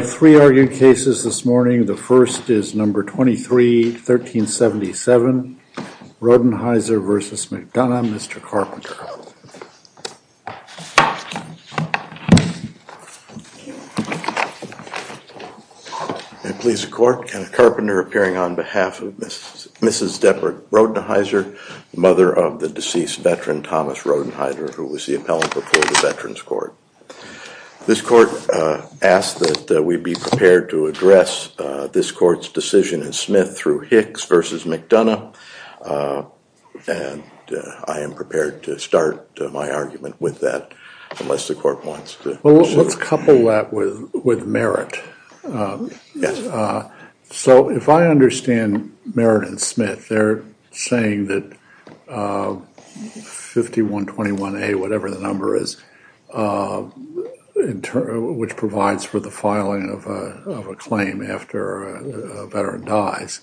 I have three arguing cases this morning. The first is number 23, 1377, Rodenheiser v. McDonough. Mr. Carpenter. May it please the court, Kenneth Carpenter appearing on behalf of Mrs. Deborah Rodenheiser, mother of the deceased veteran Thomas Rodenheiser, who was the appellant before the Veterans Court. This court asked that we be prepared to address this court's decision in Smith through Hicks v. McDonough and I am prepared to start my argument with that unless the court wants to. Let's couple that with Merritt. So if I understand Merritt and Smith, they're saying that 5121A, whatever the number is, which provides for the filing of a claim after a veteran dies,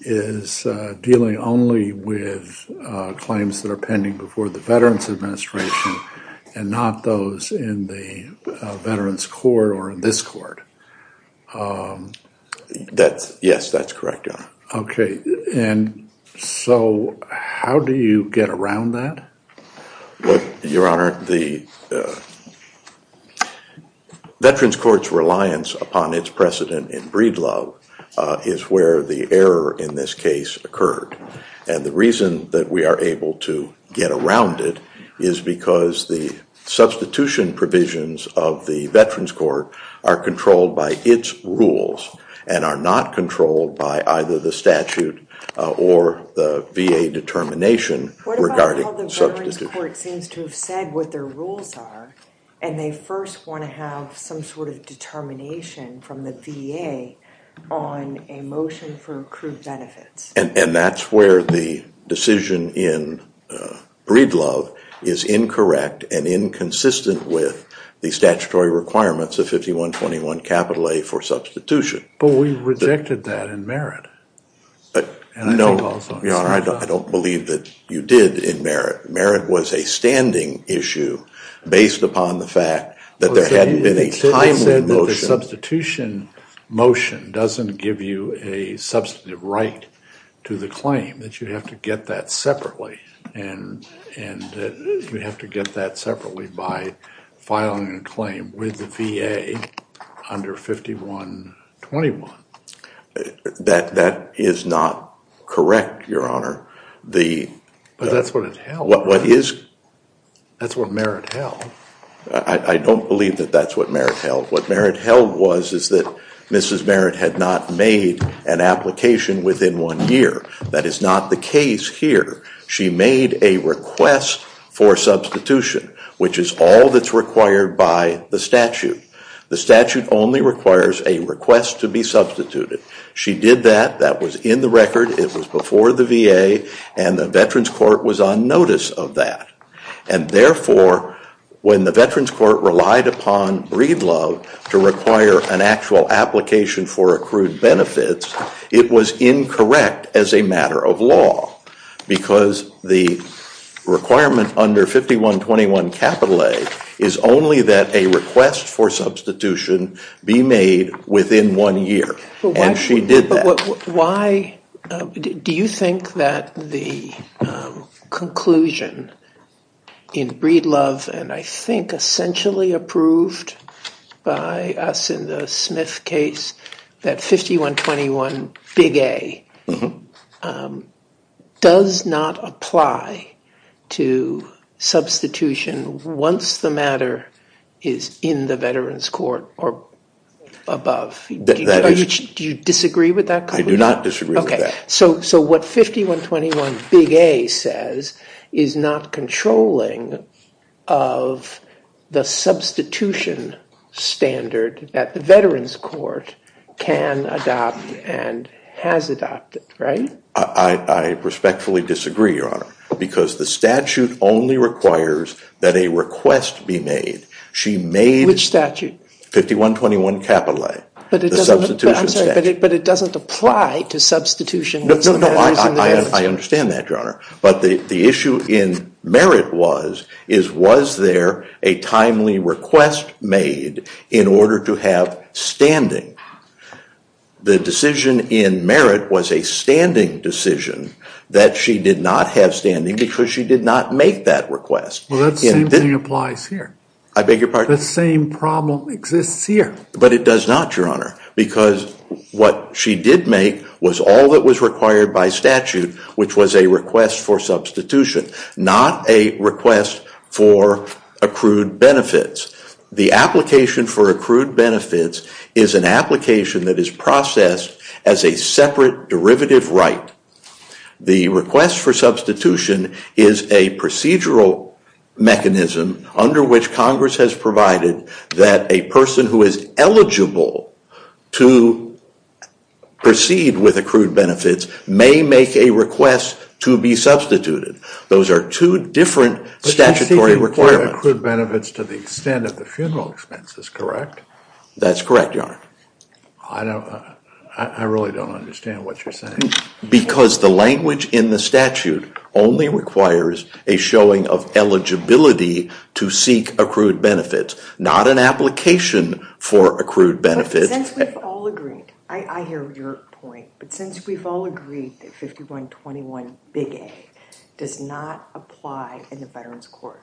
is dealing only with claims that are pending before the Veterans Administration and not those in the Veterans Court or in this court. That's yes, that's correct. Okay. And so how do you get around that? Your Honor, the Veterans Court's reliance upon its precedent in Breedlove is where the error in this case occurred. And the reason that we are able to get around it is because the substitution provisions of the Veterans Court are controlled by its rules and are not controlled by either the statute or the VA determination regarding substitution. The Veterans Court seems to have said what their rules are and they first want to have some sort of determination from the VA on a motion for accrued benefits. And that's where the decision in Breedlove is incorrect and inconsistent with the statutory requirements of 5121A for substitution. But we rejected that in Merritt. No, Your Honor, I don't believe that you did in Merritt. Merritt was a standing issue based upon the fact that there hadn't been a timely motion. They said that the substitution motion doesn't give you a substantive right to the claim, that you have to get that separately. And you have to get that separately by filing a claim with the VA under 5121. That is not correct, Your Honor. But that's what it held. That's what Merritt held. I don't believe that that's what Merritt held. What Merritt held was is that Mrs. Merritt had not made an application within one year. That is not the case here. She made a request for substitution, which is all that's required by the statute. The statute only requires a request to be substituted. She did that. That was in the record. It was before the VA. And the Veterans Court was on notice of that. And therefore, when the Veterans Court relied upon Breedlove to require an actual application for accrued benefits, it was incorrect as a matter of law. Because the requirement under 5121 capital A is only that a request for substitution be made within one year. And she did that. Do you think that the conclusion in Breedlove, and I think essentially approved by us in the Smith case, that 5121 big A does not apply to substitution once the matter is in the Veterans Court or above? Do you disagree with that? I do not disagree with that. So what 5121 big A says is not controlling of the substitution standard that the Veterans Court can adopt and has adopted, right? I respectfully disagree, Your Honor, because the statute only requires that a request be made. Which statute? 5121 capital A. But it doesn't apply to substitution. No, I understand that, Your Honor. But the issue in Merritt was, was there a timely request made in order to have standing? The decision in Merritt was a standing decision that she did not have standing because she did not make that request. Well, that same thing applies here. I beg your pardon? The same problem exists here. But it does not, Your Honor, because what she did make was all that was required by statute, which was a request for substitution, not a request for accrued benefits. The application for accrued benefits is an application that is processed as a separate derivative right. The request for substitution is a procedural mechanism under which Congress has provided that a person who is eligible to proceed with accrued benefits may make a request to be substituted. Those are two different statutory requirements. But you seek to acquire accrued benefits to the extent of the funeral expenses, correct? That's correct, Your Honor. I really don't understand what you're saying. Because the language in the statute only requires a showing of eligibility to seek accrued benefits, not an application for accrued benefits. But since we've all agreed, I hear your point, but since we've all agreed that 5121 Big A does not apply in the Veterans Court,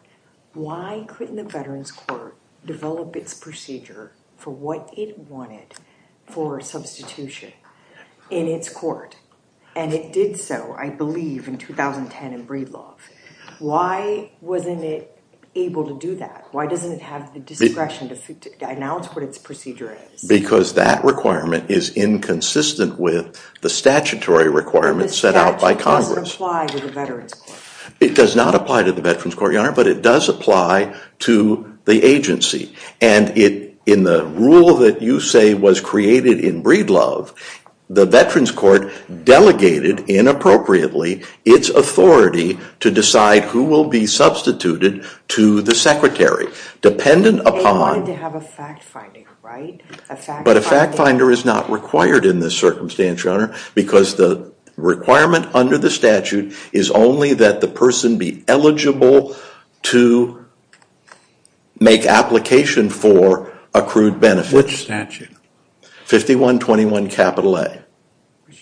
why couldn't the Veterans Court develop its procedure for what it wanted for substitution in its court? And it did so, I believe, in 2010 in Breedlaw. Why wasn't it able to do that? Why doesn't it have the discretion to announce what its procedure is? Because that requirement is inconsistent with the statutory requirements set out by Congress. The statute doesn't apply to the Veterans Court. It does not apply to the Veterans Court, Your Honor, but it does apply to the agency. And in the rule that you say was created in Breedlaw, the Veterans Court delegated, inappropriately, its authority to decide who will be substituted to the secretary. They wanted to have a fact-finding, right? But a fact-finder is not required in this circumstance, Your Honor, because the requirement under the statute is only that the person be eligible to make application for accrued benefits. Which statute? 5121 Capital A.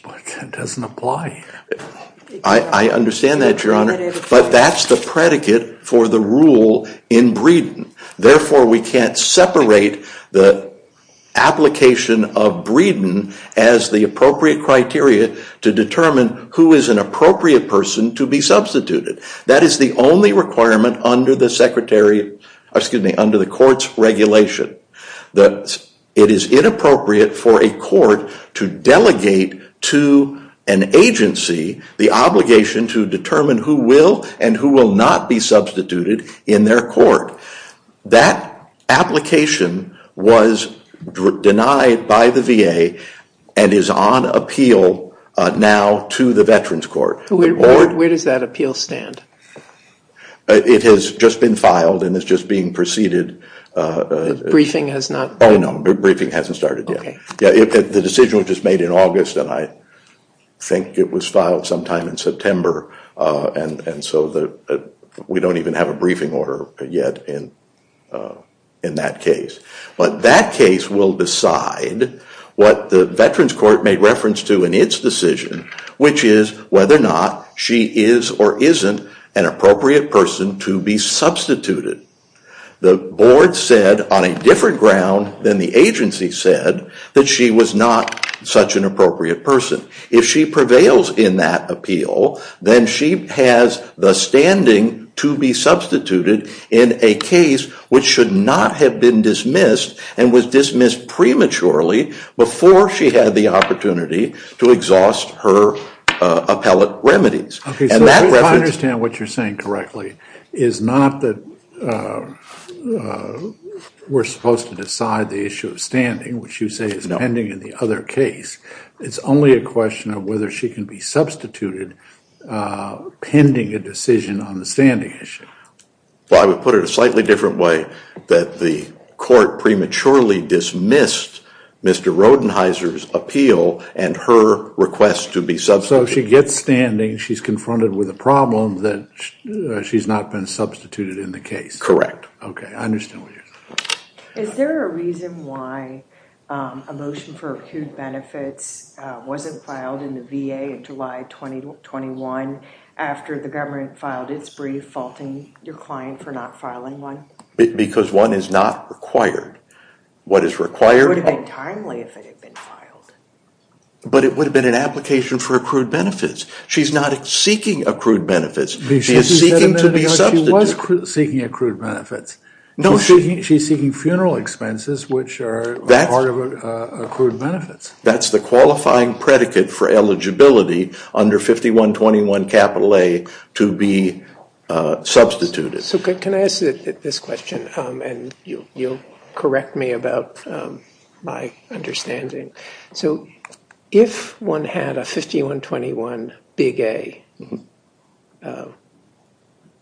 But that doesn't apply. I understand that, Your Honor. But that's the predicate for the rule in Breedon. to determine who is an appropriate person to be substituted. That is the only requirement under the court's regulation. It is inappropriate for a court to delegate to an agency the obligation to determine who will and who will not be substituted in their court. That application was denied by the VA and is on appeal now to the Veterans Court. Where does that appeal stand? It has just been filed and is just being preceded. The briefing has not? Oh, no. The briefing hasn't started yet. The decision was just made in August, and I think it was filed sometime in September. And so we don't even have a briefing order yet in that case. But that case will decide what the Veterans Court made reference to in its decision, which is whether or not she is or isn't an appropriate person to be substituted. The board said on a different ground than the agency said that she was not such an appropriate person. If she prevails in that appeal, then she has the standing to be substituted in a case which should not have been dismissed and was dismissed prematurely before she had the opportunity to exhaust her appellate remedies. Okay, so if I understand what you're saying correctly, it's not that we're supposed to decide the issue of standing, which you say is pending in the other case. It's only a question of whether she can be substituted pending a decision on the standing issue. Well, I would put it a slightly different way, that the court prematurely dismissed Mr. Rodenheiser's appeal and her request to be substituted. So if she gets standing, she's confronted with a problem that she's not been substituted in the case. Correct. Okay, I understand what you're saying. Is there a reason why a motion for accrued benefits wasn't filed in the VA in July 2021 after the government filed its brief faulting your client for not filing one? Because one is not required. It would have been timely if it had been filed. But it would have been an application for accrued benefits. She's not seeking accrued benefits. She is seeking to be substituted. She was seeking accrued benefits. No, she's seeking funeral expenses, which are part of accrued benefits. That's the qualifying predicate for eligibility under 5121 capital A to be substituted. So can I ask this question? And you'll correct me about my understanding. So if one had a 5121 big A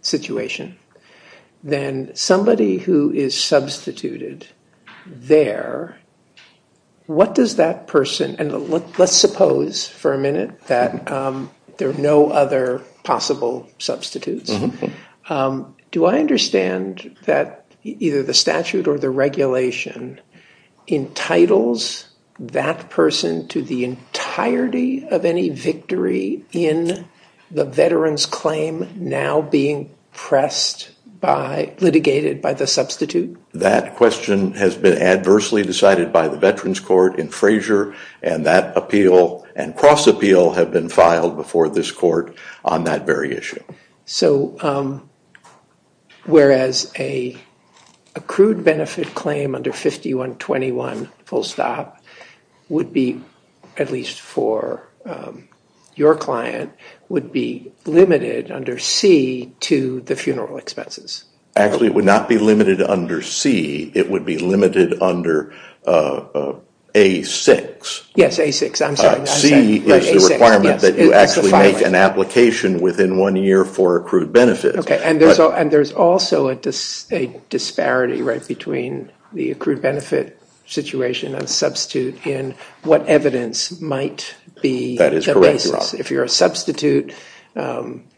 situation, then somebody who is substituted there, what does that person—and let's suppose for a minute that there are no other possible substitutes. Do I understand that either the statute or the regulation entitles that person to the entirety of any victory in the veteran's claim now being pressed by—litigated by the substitute? That question has been adversely decided by the Veterans Court in Frazier, and that appeal and cross appeal have been filed before this court on that very issue. All right. So whereas an accrued benefit claim under 5121 full stop would be, at least for your client, would be limited under C to the funeral expenses. Actually, it would not be limited under C. It would be limited under A6. Yes, A6. I'm sorry. C is the requirement that you actually make an application within one year for accrued benefits. Okay. And there's also a disparity, right, between the accrued benefit situation and substitute in what evidence might be the basis. That is correct, Your Honor. If you're a substitute,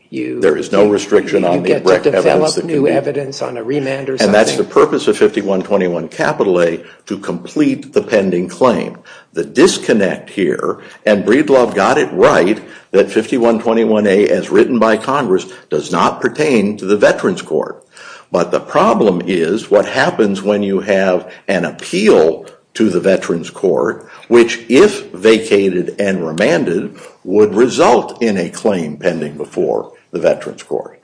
you— There is no restriction on the direct evidence that can be— You get to develop new evidence on a remand or something. And that's the purpose of 5121 capital A, to complete the pending claim. The disconnect here, and Breedlove got it right, that 5121A, as written by Congress, does not pertain to the Veterans Court. But the problem is what happens when you have an appeal to the Veterans Court, which, if vacated and remanded, would result in a claim pending before the Veterans Court.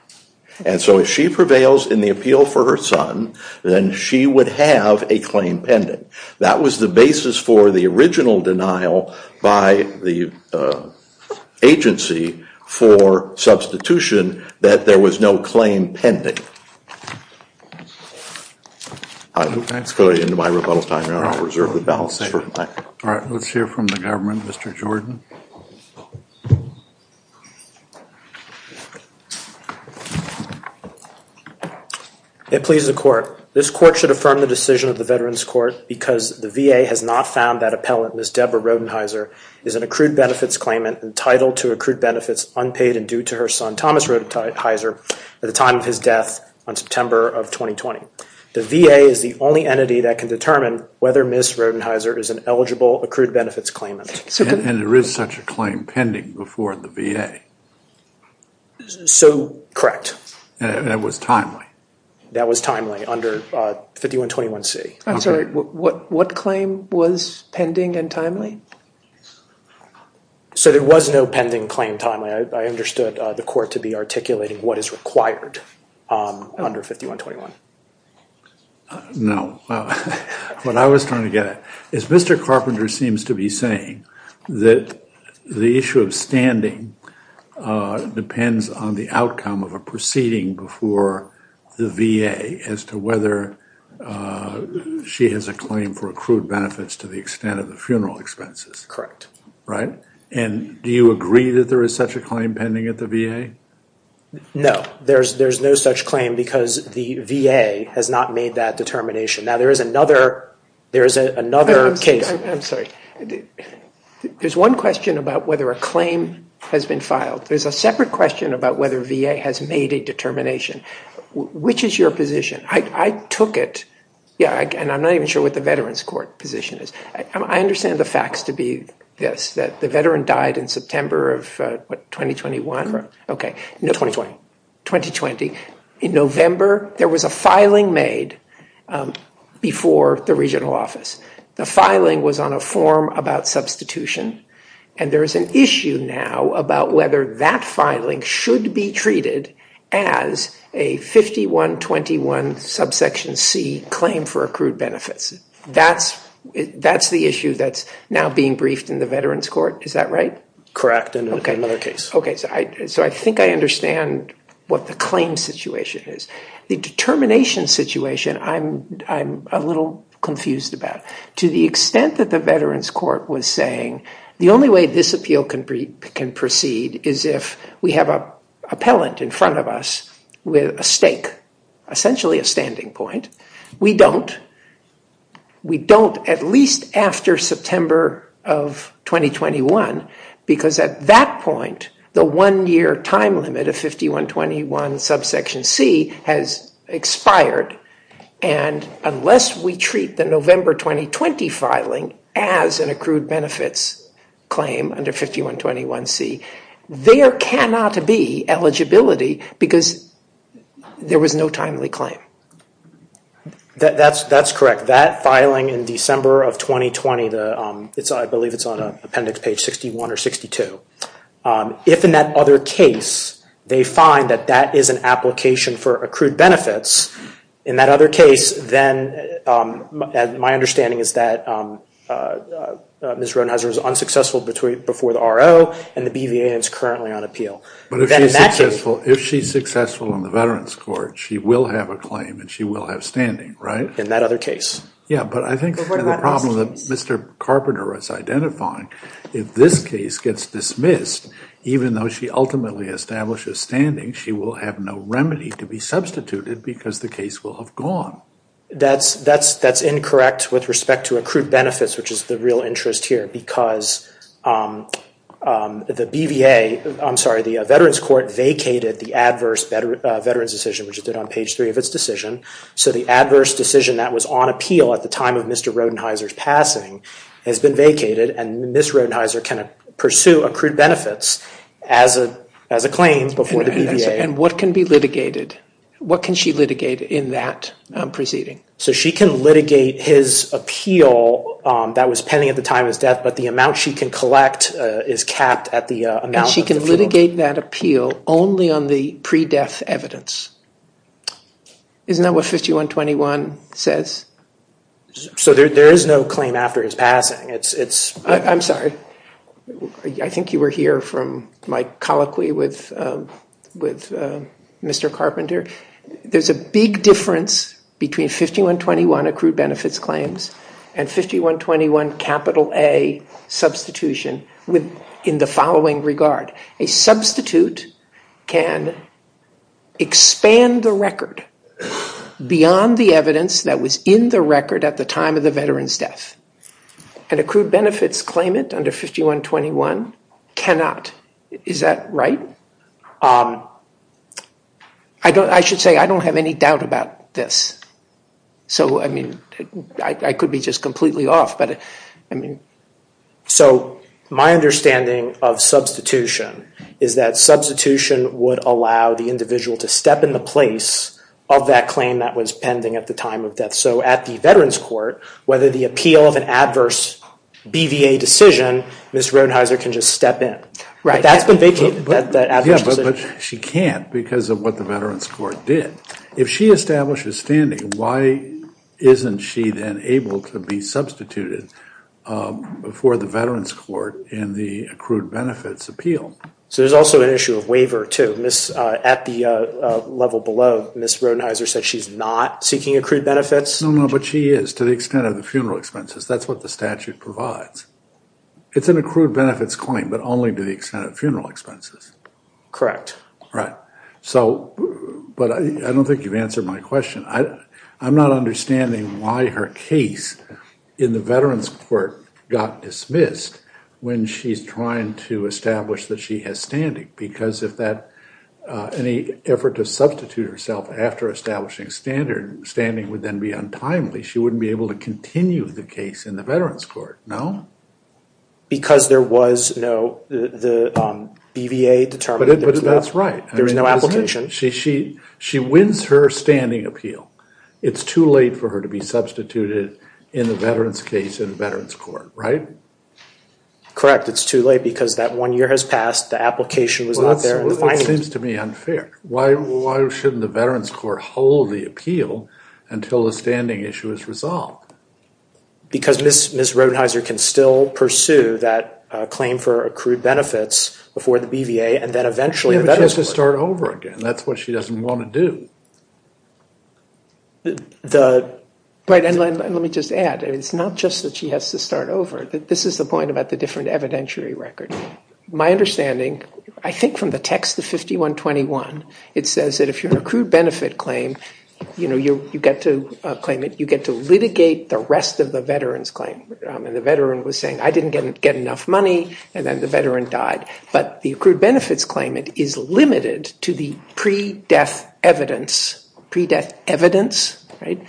And so if she prevails in the appeal for her son, then she would have a claim pending. That was the basis for the original denial by the agency for substitution, that there was no claim pending. I'm going to go into my rebuttal time now. I reserve the balance for tonight. All right. Let's hear from the government. Mr. Jordan. It pleases the Court. This Court should affirm the decision of the Veterans Court because the VA has not found that appellant, Ms. Deborah Rodenheiser, is an accrued benefits claimant entitled to accrued benefits unpaid and due to her son, Thomas Rodenheiser, at the time of his death on September of 2020. The VA is the only entity that can determine whether Ms. Rodenheiser is an eligible accrued benefits claimant. And there is such a claim pending before the VA. So, correct. And it was timely. That was timely under 5121C. I'm sorry, what claim was pending and timely? So there was no pending claim timely. I understood the Court to be articulating what is required under 5121. No. What I was trying to get at is Mr. Carpenter seems to be saying that the issue of standing depends on the outcome of a proceeding before the VA as to whether she has a claim for accrued benefits to the extent of the funeral expenses. Right? And do you agree that there is such a claim pending at the VA? No, there's no such claim because the VA has not made that determination. Now, there is another case. I'm sorry. There's one question about whether a claim has been filed. There's a separate question about whether VA has made a determination. Which is your position? I took it. Yeah, and I'm not even sure what the Veterans Court position is. I understand the facts to be this, that the veteran died in September of what, 2021? Okay. 2020. In November, there was a filing made before the regional office. The filing was on a form about substitution. And there is an issue now about whether that filing should be treated as a 5121 subsection C claim for accrued benefits. That's the issue that's now being briefed in the Veterans Court. Is that right? Correct. And another case. Okay, so I think I understand what the claim situation is. The determination situation, I'm a little confused about. To the extent that the Veterans Court was saying, the only way this appeal can proceed is if we have an appellant in front of us with a stake, essentially a standing point. We don't. We don't at least after September of 2021. Because at that point, the one-year time limit of 5121 subsection C has expired. And unless we treat the November 2020 filing as an accrued benefits claim under 5121 C, there cannot be eligibility because there was no timely claim. That's correct. That filing in December of 2020, I believe it's on appendix page 61 or 62. If in that other case, they find that that is an application for accrued benefits, in that other case, then my understanding is that Ms. Ronheiser was unsuccessful before the RO and the BVA is currently on appeal. But if she's successful in the Veterans Court, she will have a claim and she will have standing, right? In that other case. Yeah, but I think the problem that Mr. Carpenter is identifying, if this case gets dismissed, even though she ultimately establishes standing, she will have no remedy to be substituted because the case will have gone. That's incorrect with respect to accrued benefits, which is the real interest here because the BVA, I'm sorry, the Veterans Court vacated the adverse veterans decision, which it did on page three of its decision. So the adverse decision that was on appeal at the time of Mr. Ronheiser's passing has been vacated and Ms. Ronheiser can pursue accrued benefits as a claim before the BVA. And what can be litigated? What can she litigate in that proceeding? So she can litigate his appeal that was pending at the time of his death, but the amount she can collect is capped at the amount. And she can litigate that appeal only on the pre-death evidence. Isn't that what 5121 says? So there is no claim after his passing. I'm sorry. I think you were here from my colloquy with Mr. Carpenter. There's a big difference between 5121 accrued benefits claims and 5121 capital A substitution in the following regard. A substitute can expand the record beyond the evidence that was in the record at the time of the veteran's death. An accrued benefits claimant under 5121 cannot. Is that right? I should say I don't have any doubt about this. So, I mean, I could be just completely off. So my understanding of substitution is that substitution would allow the individual to step in the place of that claim that was pending at the time of death. So at the Veterans Court, whether the appeal of an adverse BVA decision, Ms. Rodenheiser can just step in. But that's been vacated, that adverse decision. But she can't because of what the Veterans Court did. If she establishes standing, why isn't she then able to be substituted for the Veterans Court in the accrued benefits appeal? So there's also an issue of waiver, too. At the level below, Ms. Rodenheiser said she's not seeking accrued benefits. No, no, but she is to the extent of the funeral expenses. That's what the statute provides. It's an accrued benefits claim, but only to the extent of funeral expenses. Correct. But I don't think you've answered my question. I'm not understanding why her case in the Veterans Court got dismissed when she's trying to establish that she has standing. Because if any effort to substitute herself after establishing standing would then be untimely, she wouldn't be able to continue the case in the Veterans Court, no? Because there was no BVA determination. But that's right. There's no application. She wins her standing appeal. It's too late for her to be substituted in the Veterans case in the Veterans Court, right? Correct. It's too late because that one year has passed. The application was not there. It seems to me unfair. Why shouldn't the Veterans Court hold the appeal until the standing issue is resolved? Because Ms. Rodenheiser can still pursue that claim for accrued benefits before the BVA and then eventually the Veterans Court. She has to start over again. That's what she doesn't want to do. Let me just add. It's not just that she has to start over. This is the point about the different evidentiary record. My understanding, I think from the text of 5121, it says that if you're an accrued benefit claim, you get to claim it. You get to litigate the rest of the veteran's claim. The veteran was saying, I didn't get enough money, and then the veteran died. But the accrued benefits claimant is limited to the pre-death evidence. Pre-death evidence, right?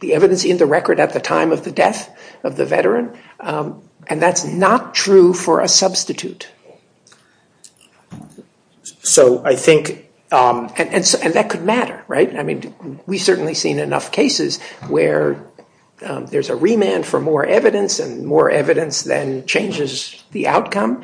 The evidence in the record at the time of the death of the veteran. And that's not true for a substitute. And that could matter, right? We've certainly seen enough cases where there's a remand for more evidence and more evidence then changes the outcome.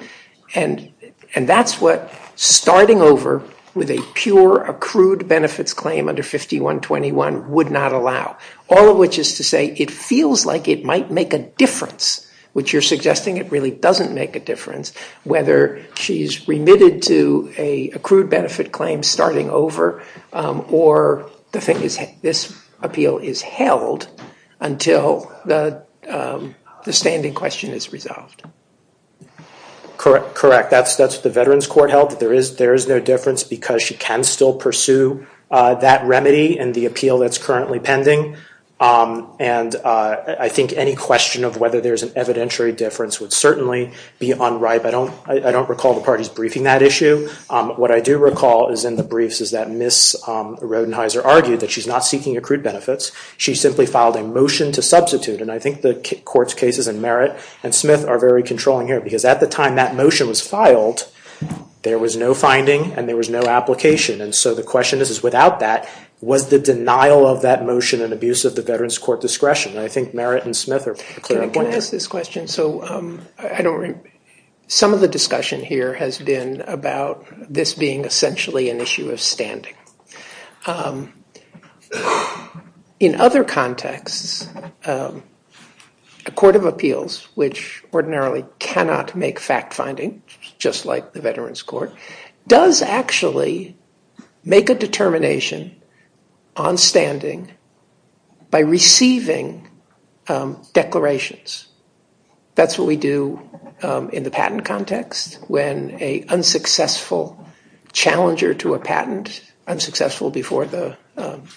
And that's what starting over with a pure accrued benefits claim under 5121 would not allow. All of which is to say, it feels like it might make a difference, which you're suggesting it really doesn't make a difference, whether she's remitted to a accrued benefit claim starting over or this appeal is held until the standing question is resolved. Correct. That's what the Veterans Court held. There is no difference because she can still pursue that remedy and the appeal that's currently pending. And I think any question of whether there's an evidentiary difference would certainly be unright. I don't recall the parties briefing that issue. What I do recall is in the briefs is that Ms. Rodenheiser argued that she's not seeking accrued benefits. She simply filed a motion to substitute. And I think the court's cases in Merritt and Smith are very controlling here because at the time that motion was filed, there was no finding and there was no application. And so the question is, is without that, was the denial of that motion an abuse of the Veterans Court discretion? And I think Merritt and Smith are clear on that. Can I ask this question? Some of the discussion here has been about this being essentially an issue of standing. In other contexts, a court of appeals, which ordinarily cannot make fact-finding, just like the Veterans Court, does actually make a determination on standing by receiving declarations. That's what we do in the patent context when an unsuccessful challenger to a patent, unsuccessful before the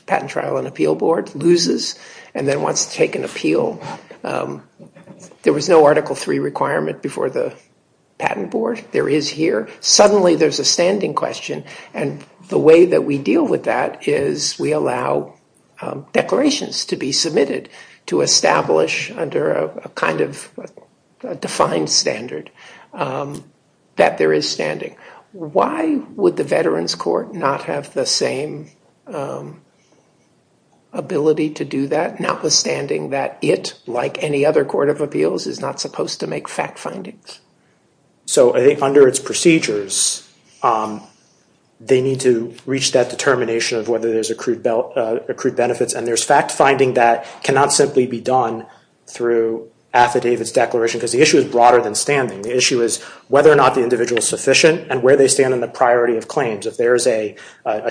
Patent Trial and Appeal Board, loses and then wants to take an appeal. There was no Article III requirement before the Patent Board. There is here. Suddenly there's a standing question, and the way that we deal with that is we allow declarations to be submitted to establish under a kind of defined standard that there is standing. Why would the Veterans Court not have the same ability to do that, notwithstanding that it, like any other court of appeals, is not supposed to make fact findings? Under its procedures, they need to reach that determination of whether there's accrued benefits, and there's fact-finding that cannot simply be done through affidavits declaration because the issue is broader than standing. The issue is whether or not the individual is sufficient and where they stand on the priority of claims. If there is a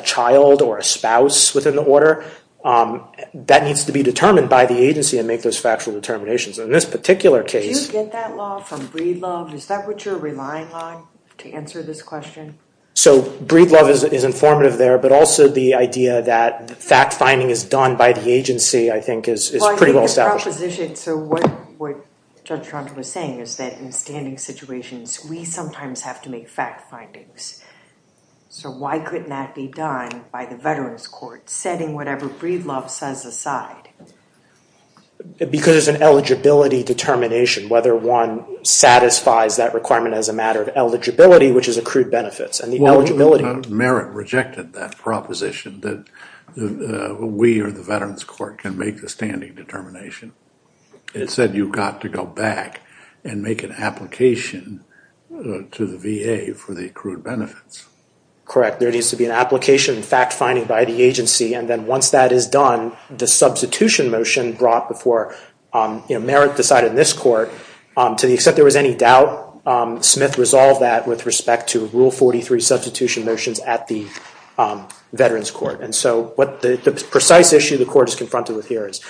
child or a spouse within the order, that needs to be determined by the agency and make those factual determinations. In this particular case... Did you get that law from Breedlove? Is that what you're relying on to answer this question? So Breedlove is informative there, but also the idea that fact-finding is done by the agency, I think, is pretty well established. So what Judge Tronto was saying is that in standing situations, we sometimes have to make fact findings. So why couldn't that be done by the Veterans Court, setting whatever Breedlove says aside? Because there's an eligibility determination, whether one satisfies that requirement as a matter of eligibility, which is accrued benefits, and the eligibility... Merritt rejected that proposition that we or the Veterans Court can make the standing determination. It said you've got to go back and make an application to the VA for the accrued benefits. Correct. There needs to be an application, fact-finding by the agency, and then once that is done, the substitution motion brought before... Merritt decided in this court, to the extent there was any doubt, Smith resolved that with respect to Rule 43 substitution motions at the Veterans Court. And so what the precise issue the court is confronted with here is,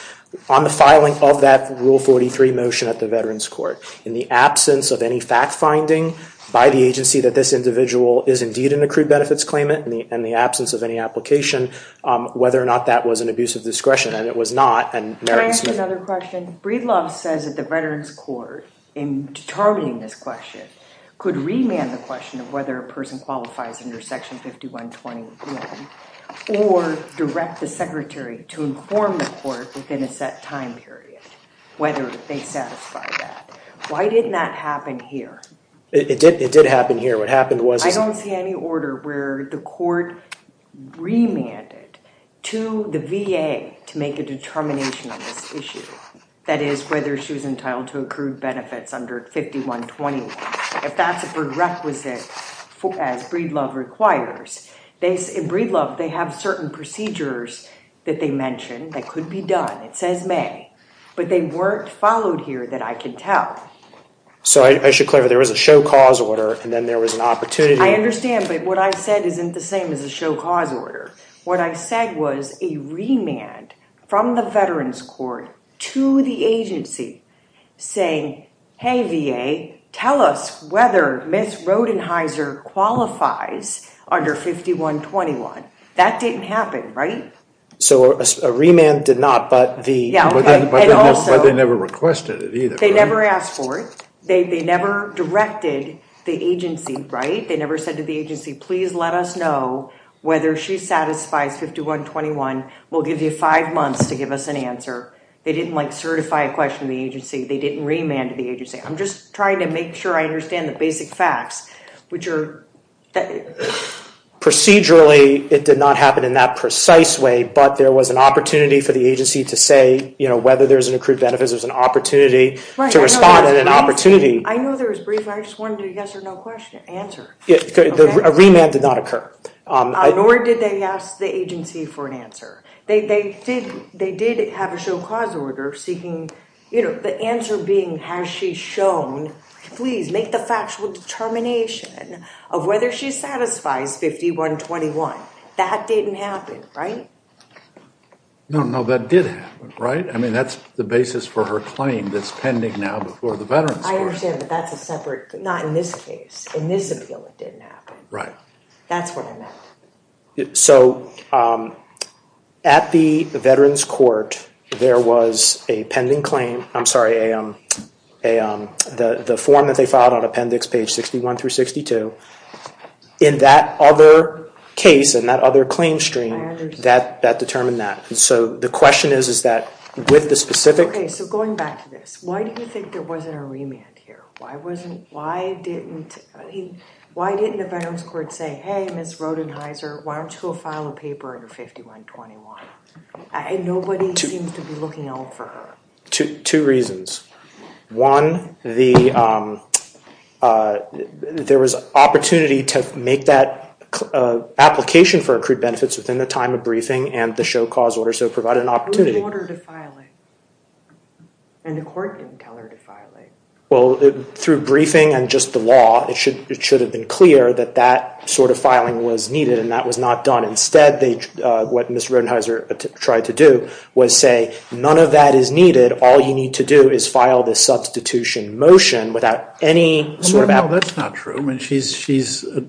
on the filing of that Rule 43 motion at the Veterans Court, in the absence of any fact-finding by the agency that this individual is indeed an accrued benefits claimant, and the absence of any application, whether or not that was an abuse of discretion, and it was not, and Merritt and Smith... Can I ask you another question? Breedlove says that the Veterans Court, in determining this question, could remand the question of whether a person qualifies under Section 5121, or direct the secretary to inform the court within a set time period, whether they satisfy that. Why didn't that happen here? It did happen here. What happened was... I don't see any order where the court remanded to the VA to make a determination on this issue, that is, whether she was entitled to accrued benefits under 5121. If that's a prerequisite, as Breedlove requires, in Breedlove they have certain procedures that they mention that could be done. It says may. But they weren't followed here that I can tell. So I should clarify, there was a show cause order, and then there was an opportunity... I understand, but what I said isn't the same as a show cause order. What I said was a remand from the Veterans Court to the agency saying, hey, VA, tell us whether Ms. Rodenheiser qualifies under 5121. That didn't happen, right? So a remand did not, but the... But they never requested it either. They never asked for it. They never directed the agency, right? They never said to the agency, please let us know whether she satisfies 5121. We'll give you five months to give us an answer. They didn't certify a question to the agency. They didn't remand to the agency. I'm just trying to make sure I understand the basic facts, which are... Procedurally, it did not happen in that precise way, but there was an opportunity for the agency to say whether there's an accrued benefits, whether there's an opportunity to respond and an opportunity... I know there was brief, and I just wanted a yes or no answer. A remand did not occur. Nor did they ask the agency for an answer. They did have a show cause order seeking... The answer being, has she shown, please make the factual determination of whether she satisfies 5121. That didn't happen, right? No, no, that did happen, right? I mean, that's the basis for her claim that's pending now before the Veterans Court. I understand, but that's a separate... Not in this case. In this appeal, it didn't happen. Right. That's what I meant. So, at the Veterans Court, there was a pending claim. I'm sorry, the form that they filed on appendix page 61 through 62. In that other case, in that other claim stream, that determined that. So, the question is, is that with the specific... Okay, so going back to this, why do you think there wasn't a remand here? Why didn't the Veterans Court say, hey, Ms. Rodenheiser, why don't you go file a paper under 5121? And nobody seems to be looking out for her. Two reasons. One, there was opportunity to make that application for accrued benefits within the time of briefing and the show cause order, so it provided an opportunity. Who told her to file it? And the court didn't tell her to file it. Well, through briefing and just the law, it should have been clear that that sort of filing was needed and that was not done. Instead, what Ms. Rodenheiser tried to do was say, none of that is needed. All you need to do is file this substitution motion without any sort of... Well, no, that's not true. She started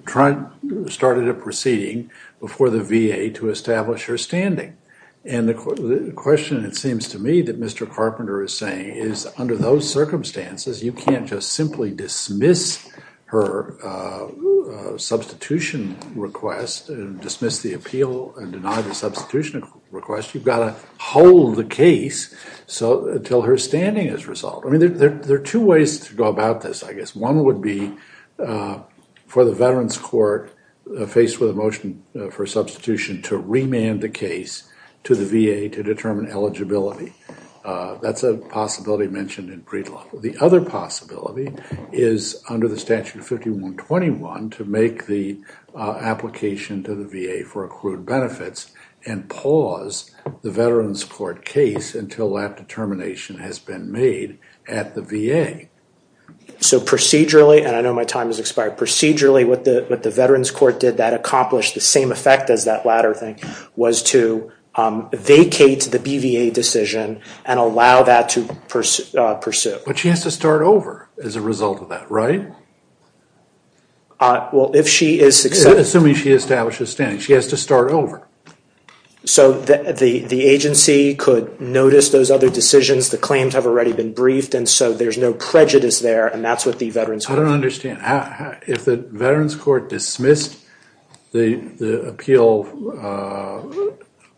a proceeding before the VA to establish her standing. And the question, it seems to me, that Mr. Carpenter is saying is, under those circumstances, you can't just simply dismiss her substitution request and dismiss the appeal and deny the substitution request. You've got to hold the case until her standing is resolved. There are two ways to go about this, I guess. One would be for the Veterans Court, faced with a motion for substitution, to remand the case to the VA to determine eligibility. That's a possibility mentioned in Breed Law. The other possibility is, under the Statute 5121, to make the application to the VA for accrued benefits and pause the Veterans Court case until that determination has been made at the VA. So procedurally, and I know my time has expired, procedurally what the Veterans Court did that accomplished the same effect as that latter thing was to vacate the BVA decision and allow that to pursue. But she has to start over as a result of that, right? Well, if she is successful... Assuming she establishes standing, she has to start over. So the agency could notice those other decisions. The claims have already been briefed, and so there's no prejudice there, and that's what the Veterans Court did. I don't understand. If the Veterans Court dismissed the appeal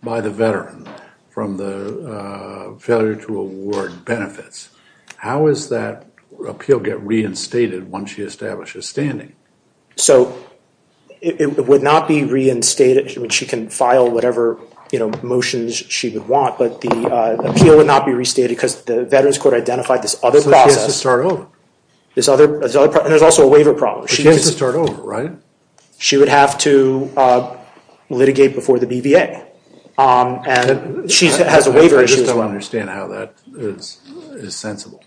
by the veteran from the failure to award benefits, how does that appeal get reinstated once she establishes standing? So it would not be reinstated. She can file whatever motions she would want, but the appeal would not be restated because the Veterans Court identified this other process. There's also a waiver problem. She has to start over, right? She would have to litigate before the BVA, and she has a waiver issue as well. I just don't understand how that is sensible.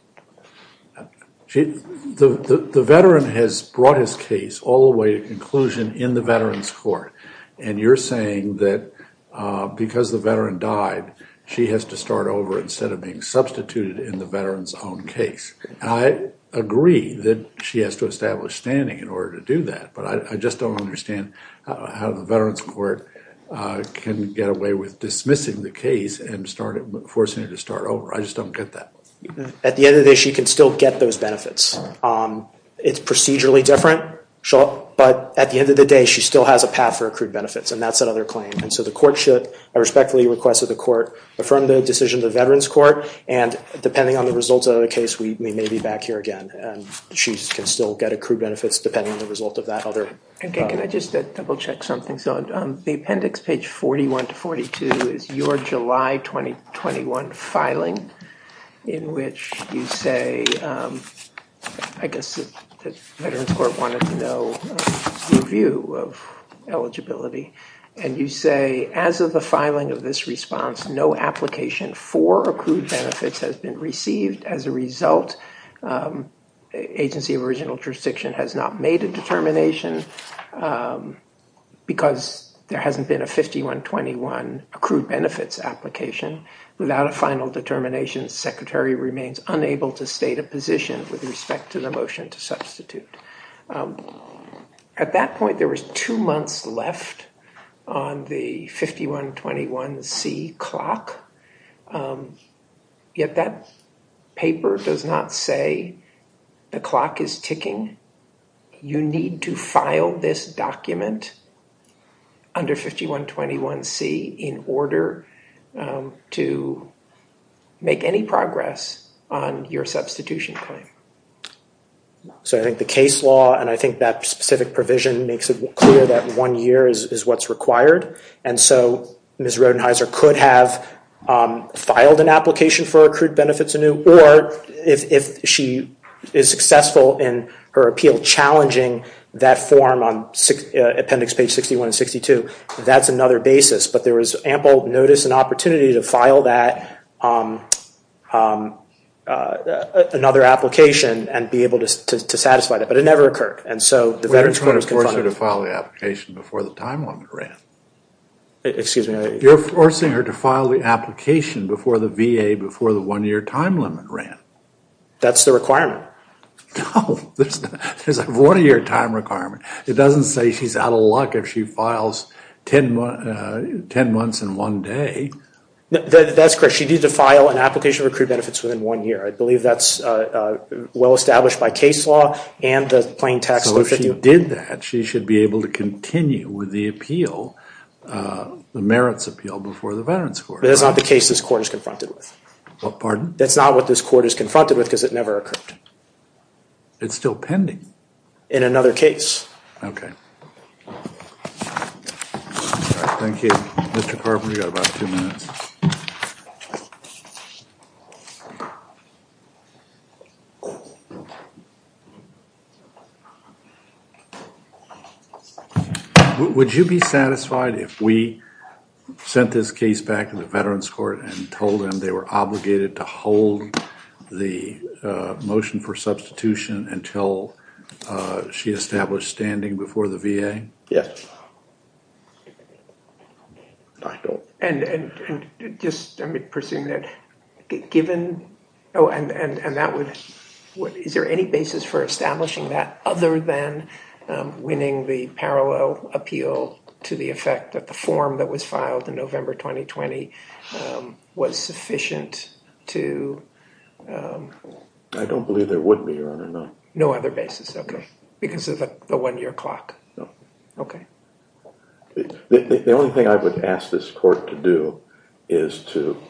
The veteran has brought his case all the way to conclusion in the Veterans Court, and you're saying that because the veteran died, she has to start over instead of being substituted in the veteran's own case. I agree that she has to establish standing in order to do that, but I just don't understand how the Veterans Court can get away with dismissing the case and forcing her to start over. I just don't get that. At the end of the day, she can still get those benefits. It's procedurally different, but at the end of the day, she still has a path for accrued benefits, and that's another claim. I respectfully request that the court affirm the decision of the Veterans Court, and depending on the results of the case, we may be back here again. She can still get accrued benefits depending on the result of that other… Can I just double-check something? The appendix, page 41 to 42, is your July 2021 filing, in which you say, I guess the Veterans Court wanted to know your view of eligibility, and you say, as of the filing of this response, no application for accrued benefits has been received. As a result, Agency of Original Jurisdiction has not made a determination because there hasn't been a 5121 accrued benefits application without a final determination. The secretary remains unable to state a position with respect to the motion to substitute. At that point, there was two months left on the 5121C clock, yet that paper does not say the clock is ticking. You need to file this document under 5121C in order to make any progress on your substitution claim. So I think the case law and I think that specific provision makes it clear that one year is what's required, and so Ms. Rodenheiser could have filed an application for accrued benefits anew, or if she is successful in her appeal challenging that form on appendix page 61 and 62, that's another basis. But there was ample notice and opportunity to file that, another application, and be able to satisfy that. But it never occurred. And so the Veterans Court was confounded. We're trying to force her to file the application before the time limit ran. Excuse me? You're forcing her to file the application before the VA, before the one-year time limit ran. That's the requirement. No. There's a one-year time requirement. It doesn't say she's out of luck if she files 10 months in one day. That's correct. She needs to file an application for accrued benefits within one year. I believe that's well established by case law and the plain text. So if she did that, she should be able to continue with the appeal, the merits appeal before the Veterans Court. But that's not the case this court is confronted with. Pardon? That's not what this court is confronted with because it never occurred. It's still pending. In another case. Okay. Thank you. Mr. Carpenter, you got about two minutes. Would you be satisfied if we sent this case back to the Veterans Court and told them they were obligated to hold the motion for substitution until she established standing before the VA? Standing? Yes. I don't. And just, I'm presuming that given, oh, and that would, is there any basis for establishing that other than winning the parallel appeal to the effect that the form that was filed in November 2020 was sufficient to. I don't believe there would be, Your Honor, no. No other basis. Okay. Because of the one-year clock. No. Okay. The only thing I would ask this court to do is to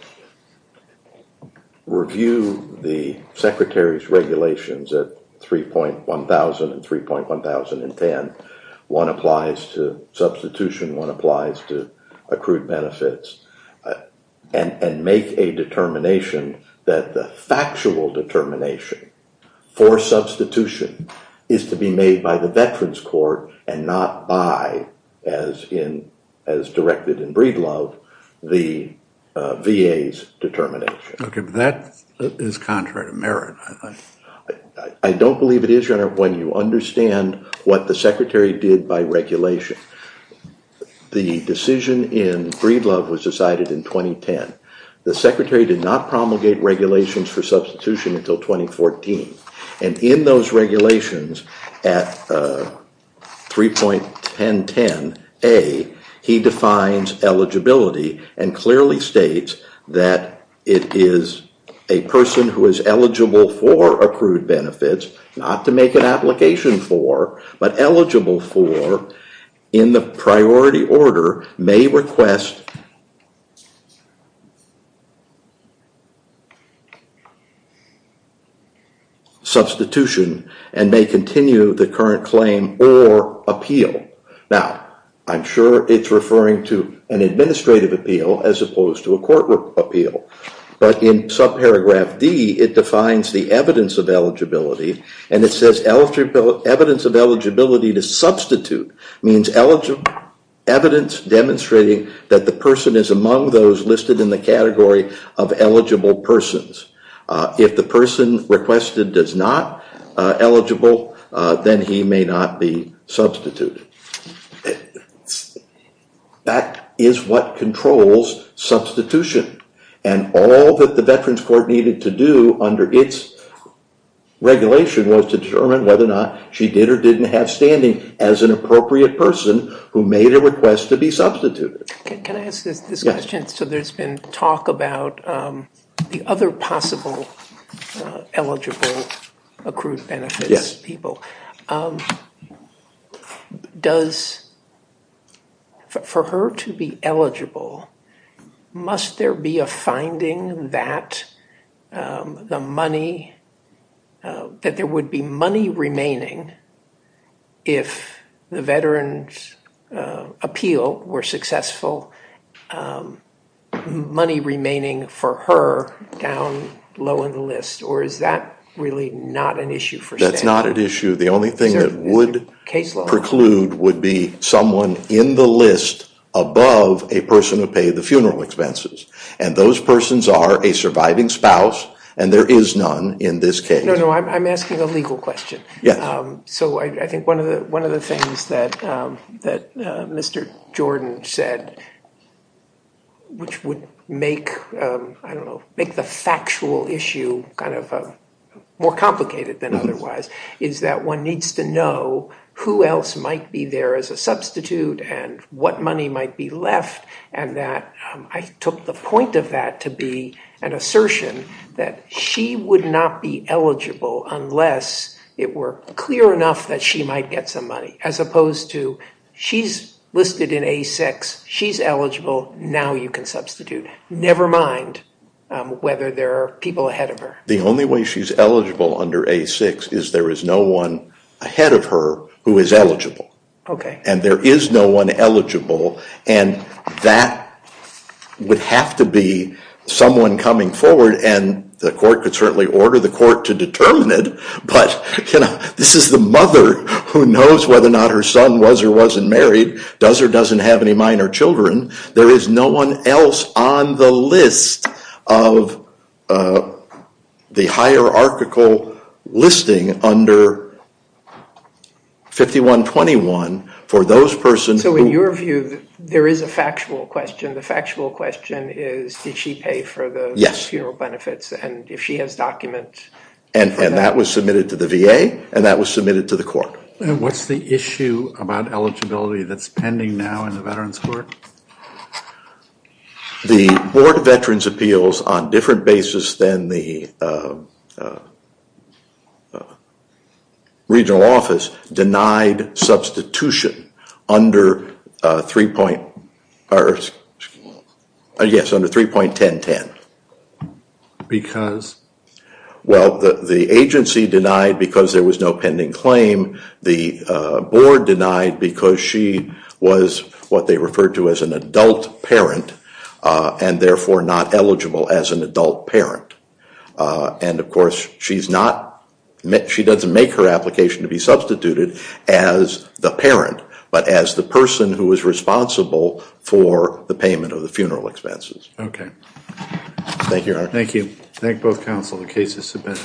review the Secretary's regulations at 3.1000 and 3.1010. One applies to substitution, one applies to accrued benefits, and make a determination that the factual determination for substitution is to be made by the Veterans Court and not by, as in, as directed in Breedlove, the VA's determination. Okay. But that is contrary to merit, I think. I don't believe it is, Your Honor, when you understand what the Secretary did by regulation. The decision in Breedlove was decided in 2010. The Secretary did not promulgate regulations for substitution until 2014. And in those regulations at 3.1010A, he defines eligibility and clearly states that it is a person who is eligible for accrued benefits, not to make an application for, but eligible for, in the priority order, may request substitution and may continue the current claim or appeal. Now, I'm sure it's referring to an administrative appeal as opposed to a court appeal. But in subparagraph D, it defines the evidence of eligibility, and it says evidence of eligibility to substitute means evidence demonstrating that the person is among those listed in the category of eligible persons. If the person requested is not eligible, then he may not be substituted. That is what controls substitution, and all that the Veterans Court needed to do under its regulation was to determine whether or not she did or didn't have standing as an appropriate person who made a request to be substituted. Can I ask this question? So there's been talk about the other possible eligible accrued benefits people. Does, for her to be eligible, must there be a finding that the money, that there would be money remaining if the veterans appeal were successful, money remaining for her down low in the list, or is that really not an issue? That's not an issue. The only thing that would preclude would be someone in the list above a person who paid the funeral expenses, and those persons are a surviving spouse, and there is none in this case. No, no, I'm asking a legal question. So I think one of the things that Mr. Jordan said, which would make the factual issue kind of more complicated than otherwise, is that one needs to know who else might be there as a substitute and what money might be left, and that I took the point of that to be an assertion that she would not be eligible unless it were clear enough that she might get some money, as opposed to she's listed in A6, she's eligible, now you can substitute, never mind whether there are people ahead of her. The only way she's eligible under A6 is there is no one ahead of her who is eligible, and there is no one eligible, and that would have to be someone coming forward, and the court could certainly order the court to determine it, but this is the mother who knows whether or not her son was or wasn't married, does or doesn't have any minor children. There is no one else on the list of the hierarchical listing under 5121 for those persons who- So in your view, there is a factual question. The factual question is did she pay for the funeral benefits, and if she has documents- And that was submitted to the VA, and that was submitted to the court. What's the issue about eligibility that's pending now in the Veterans Court? The Board of Veterans' Appeals, on different basis than the regional office, denied substitution under 3.1010. Because? Well, the agency denied because there was no pending claim. The board denied because she was what they referred to as an adult parent, and therefore not eligible as an adult parent. And, of course, she's not- She doesn't make her application to be substituted as the parent, but as the person who is responsible for the payment of the funeral expenses. Okay. Thank you. Thank you. Thank both counsel. The case is submitted.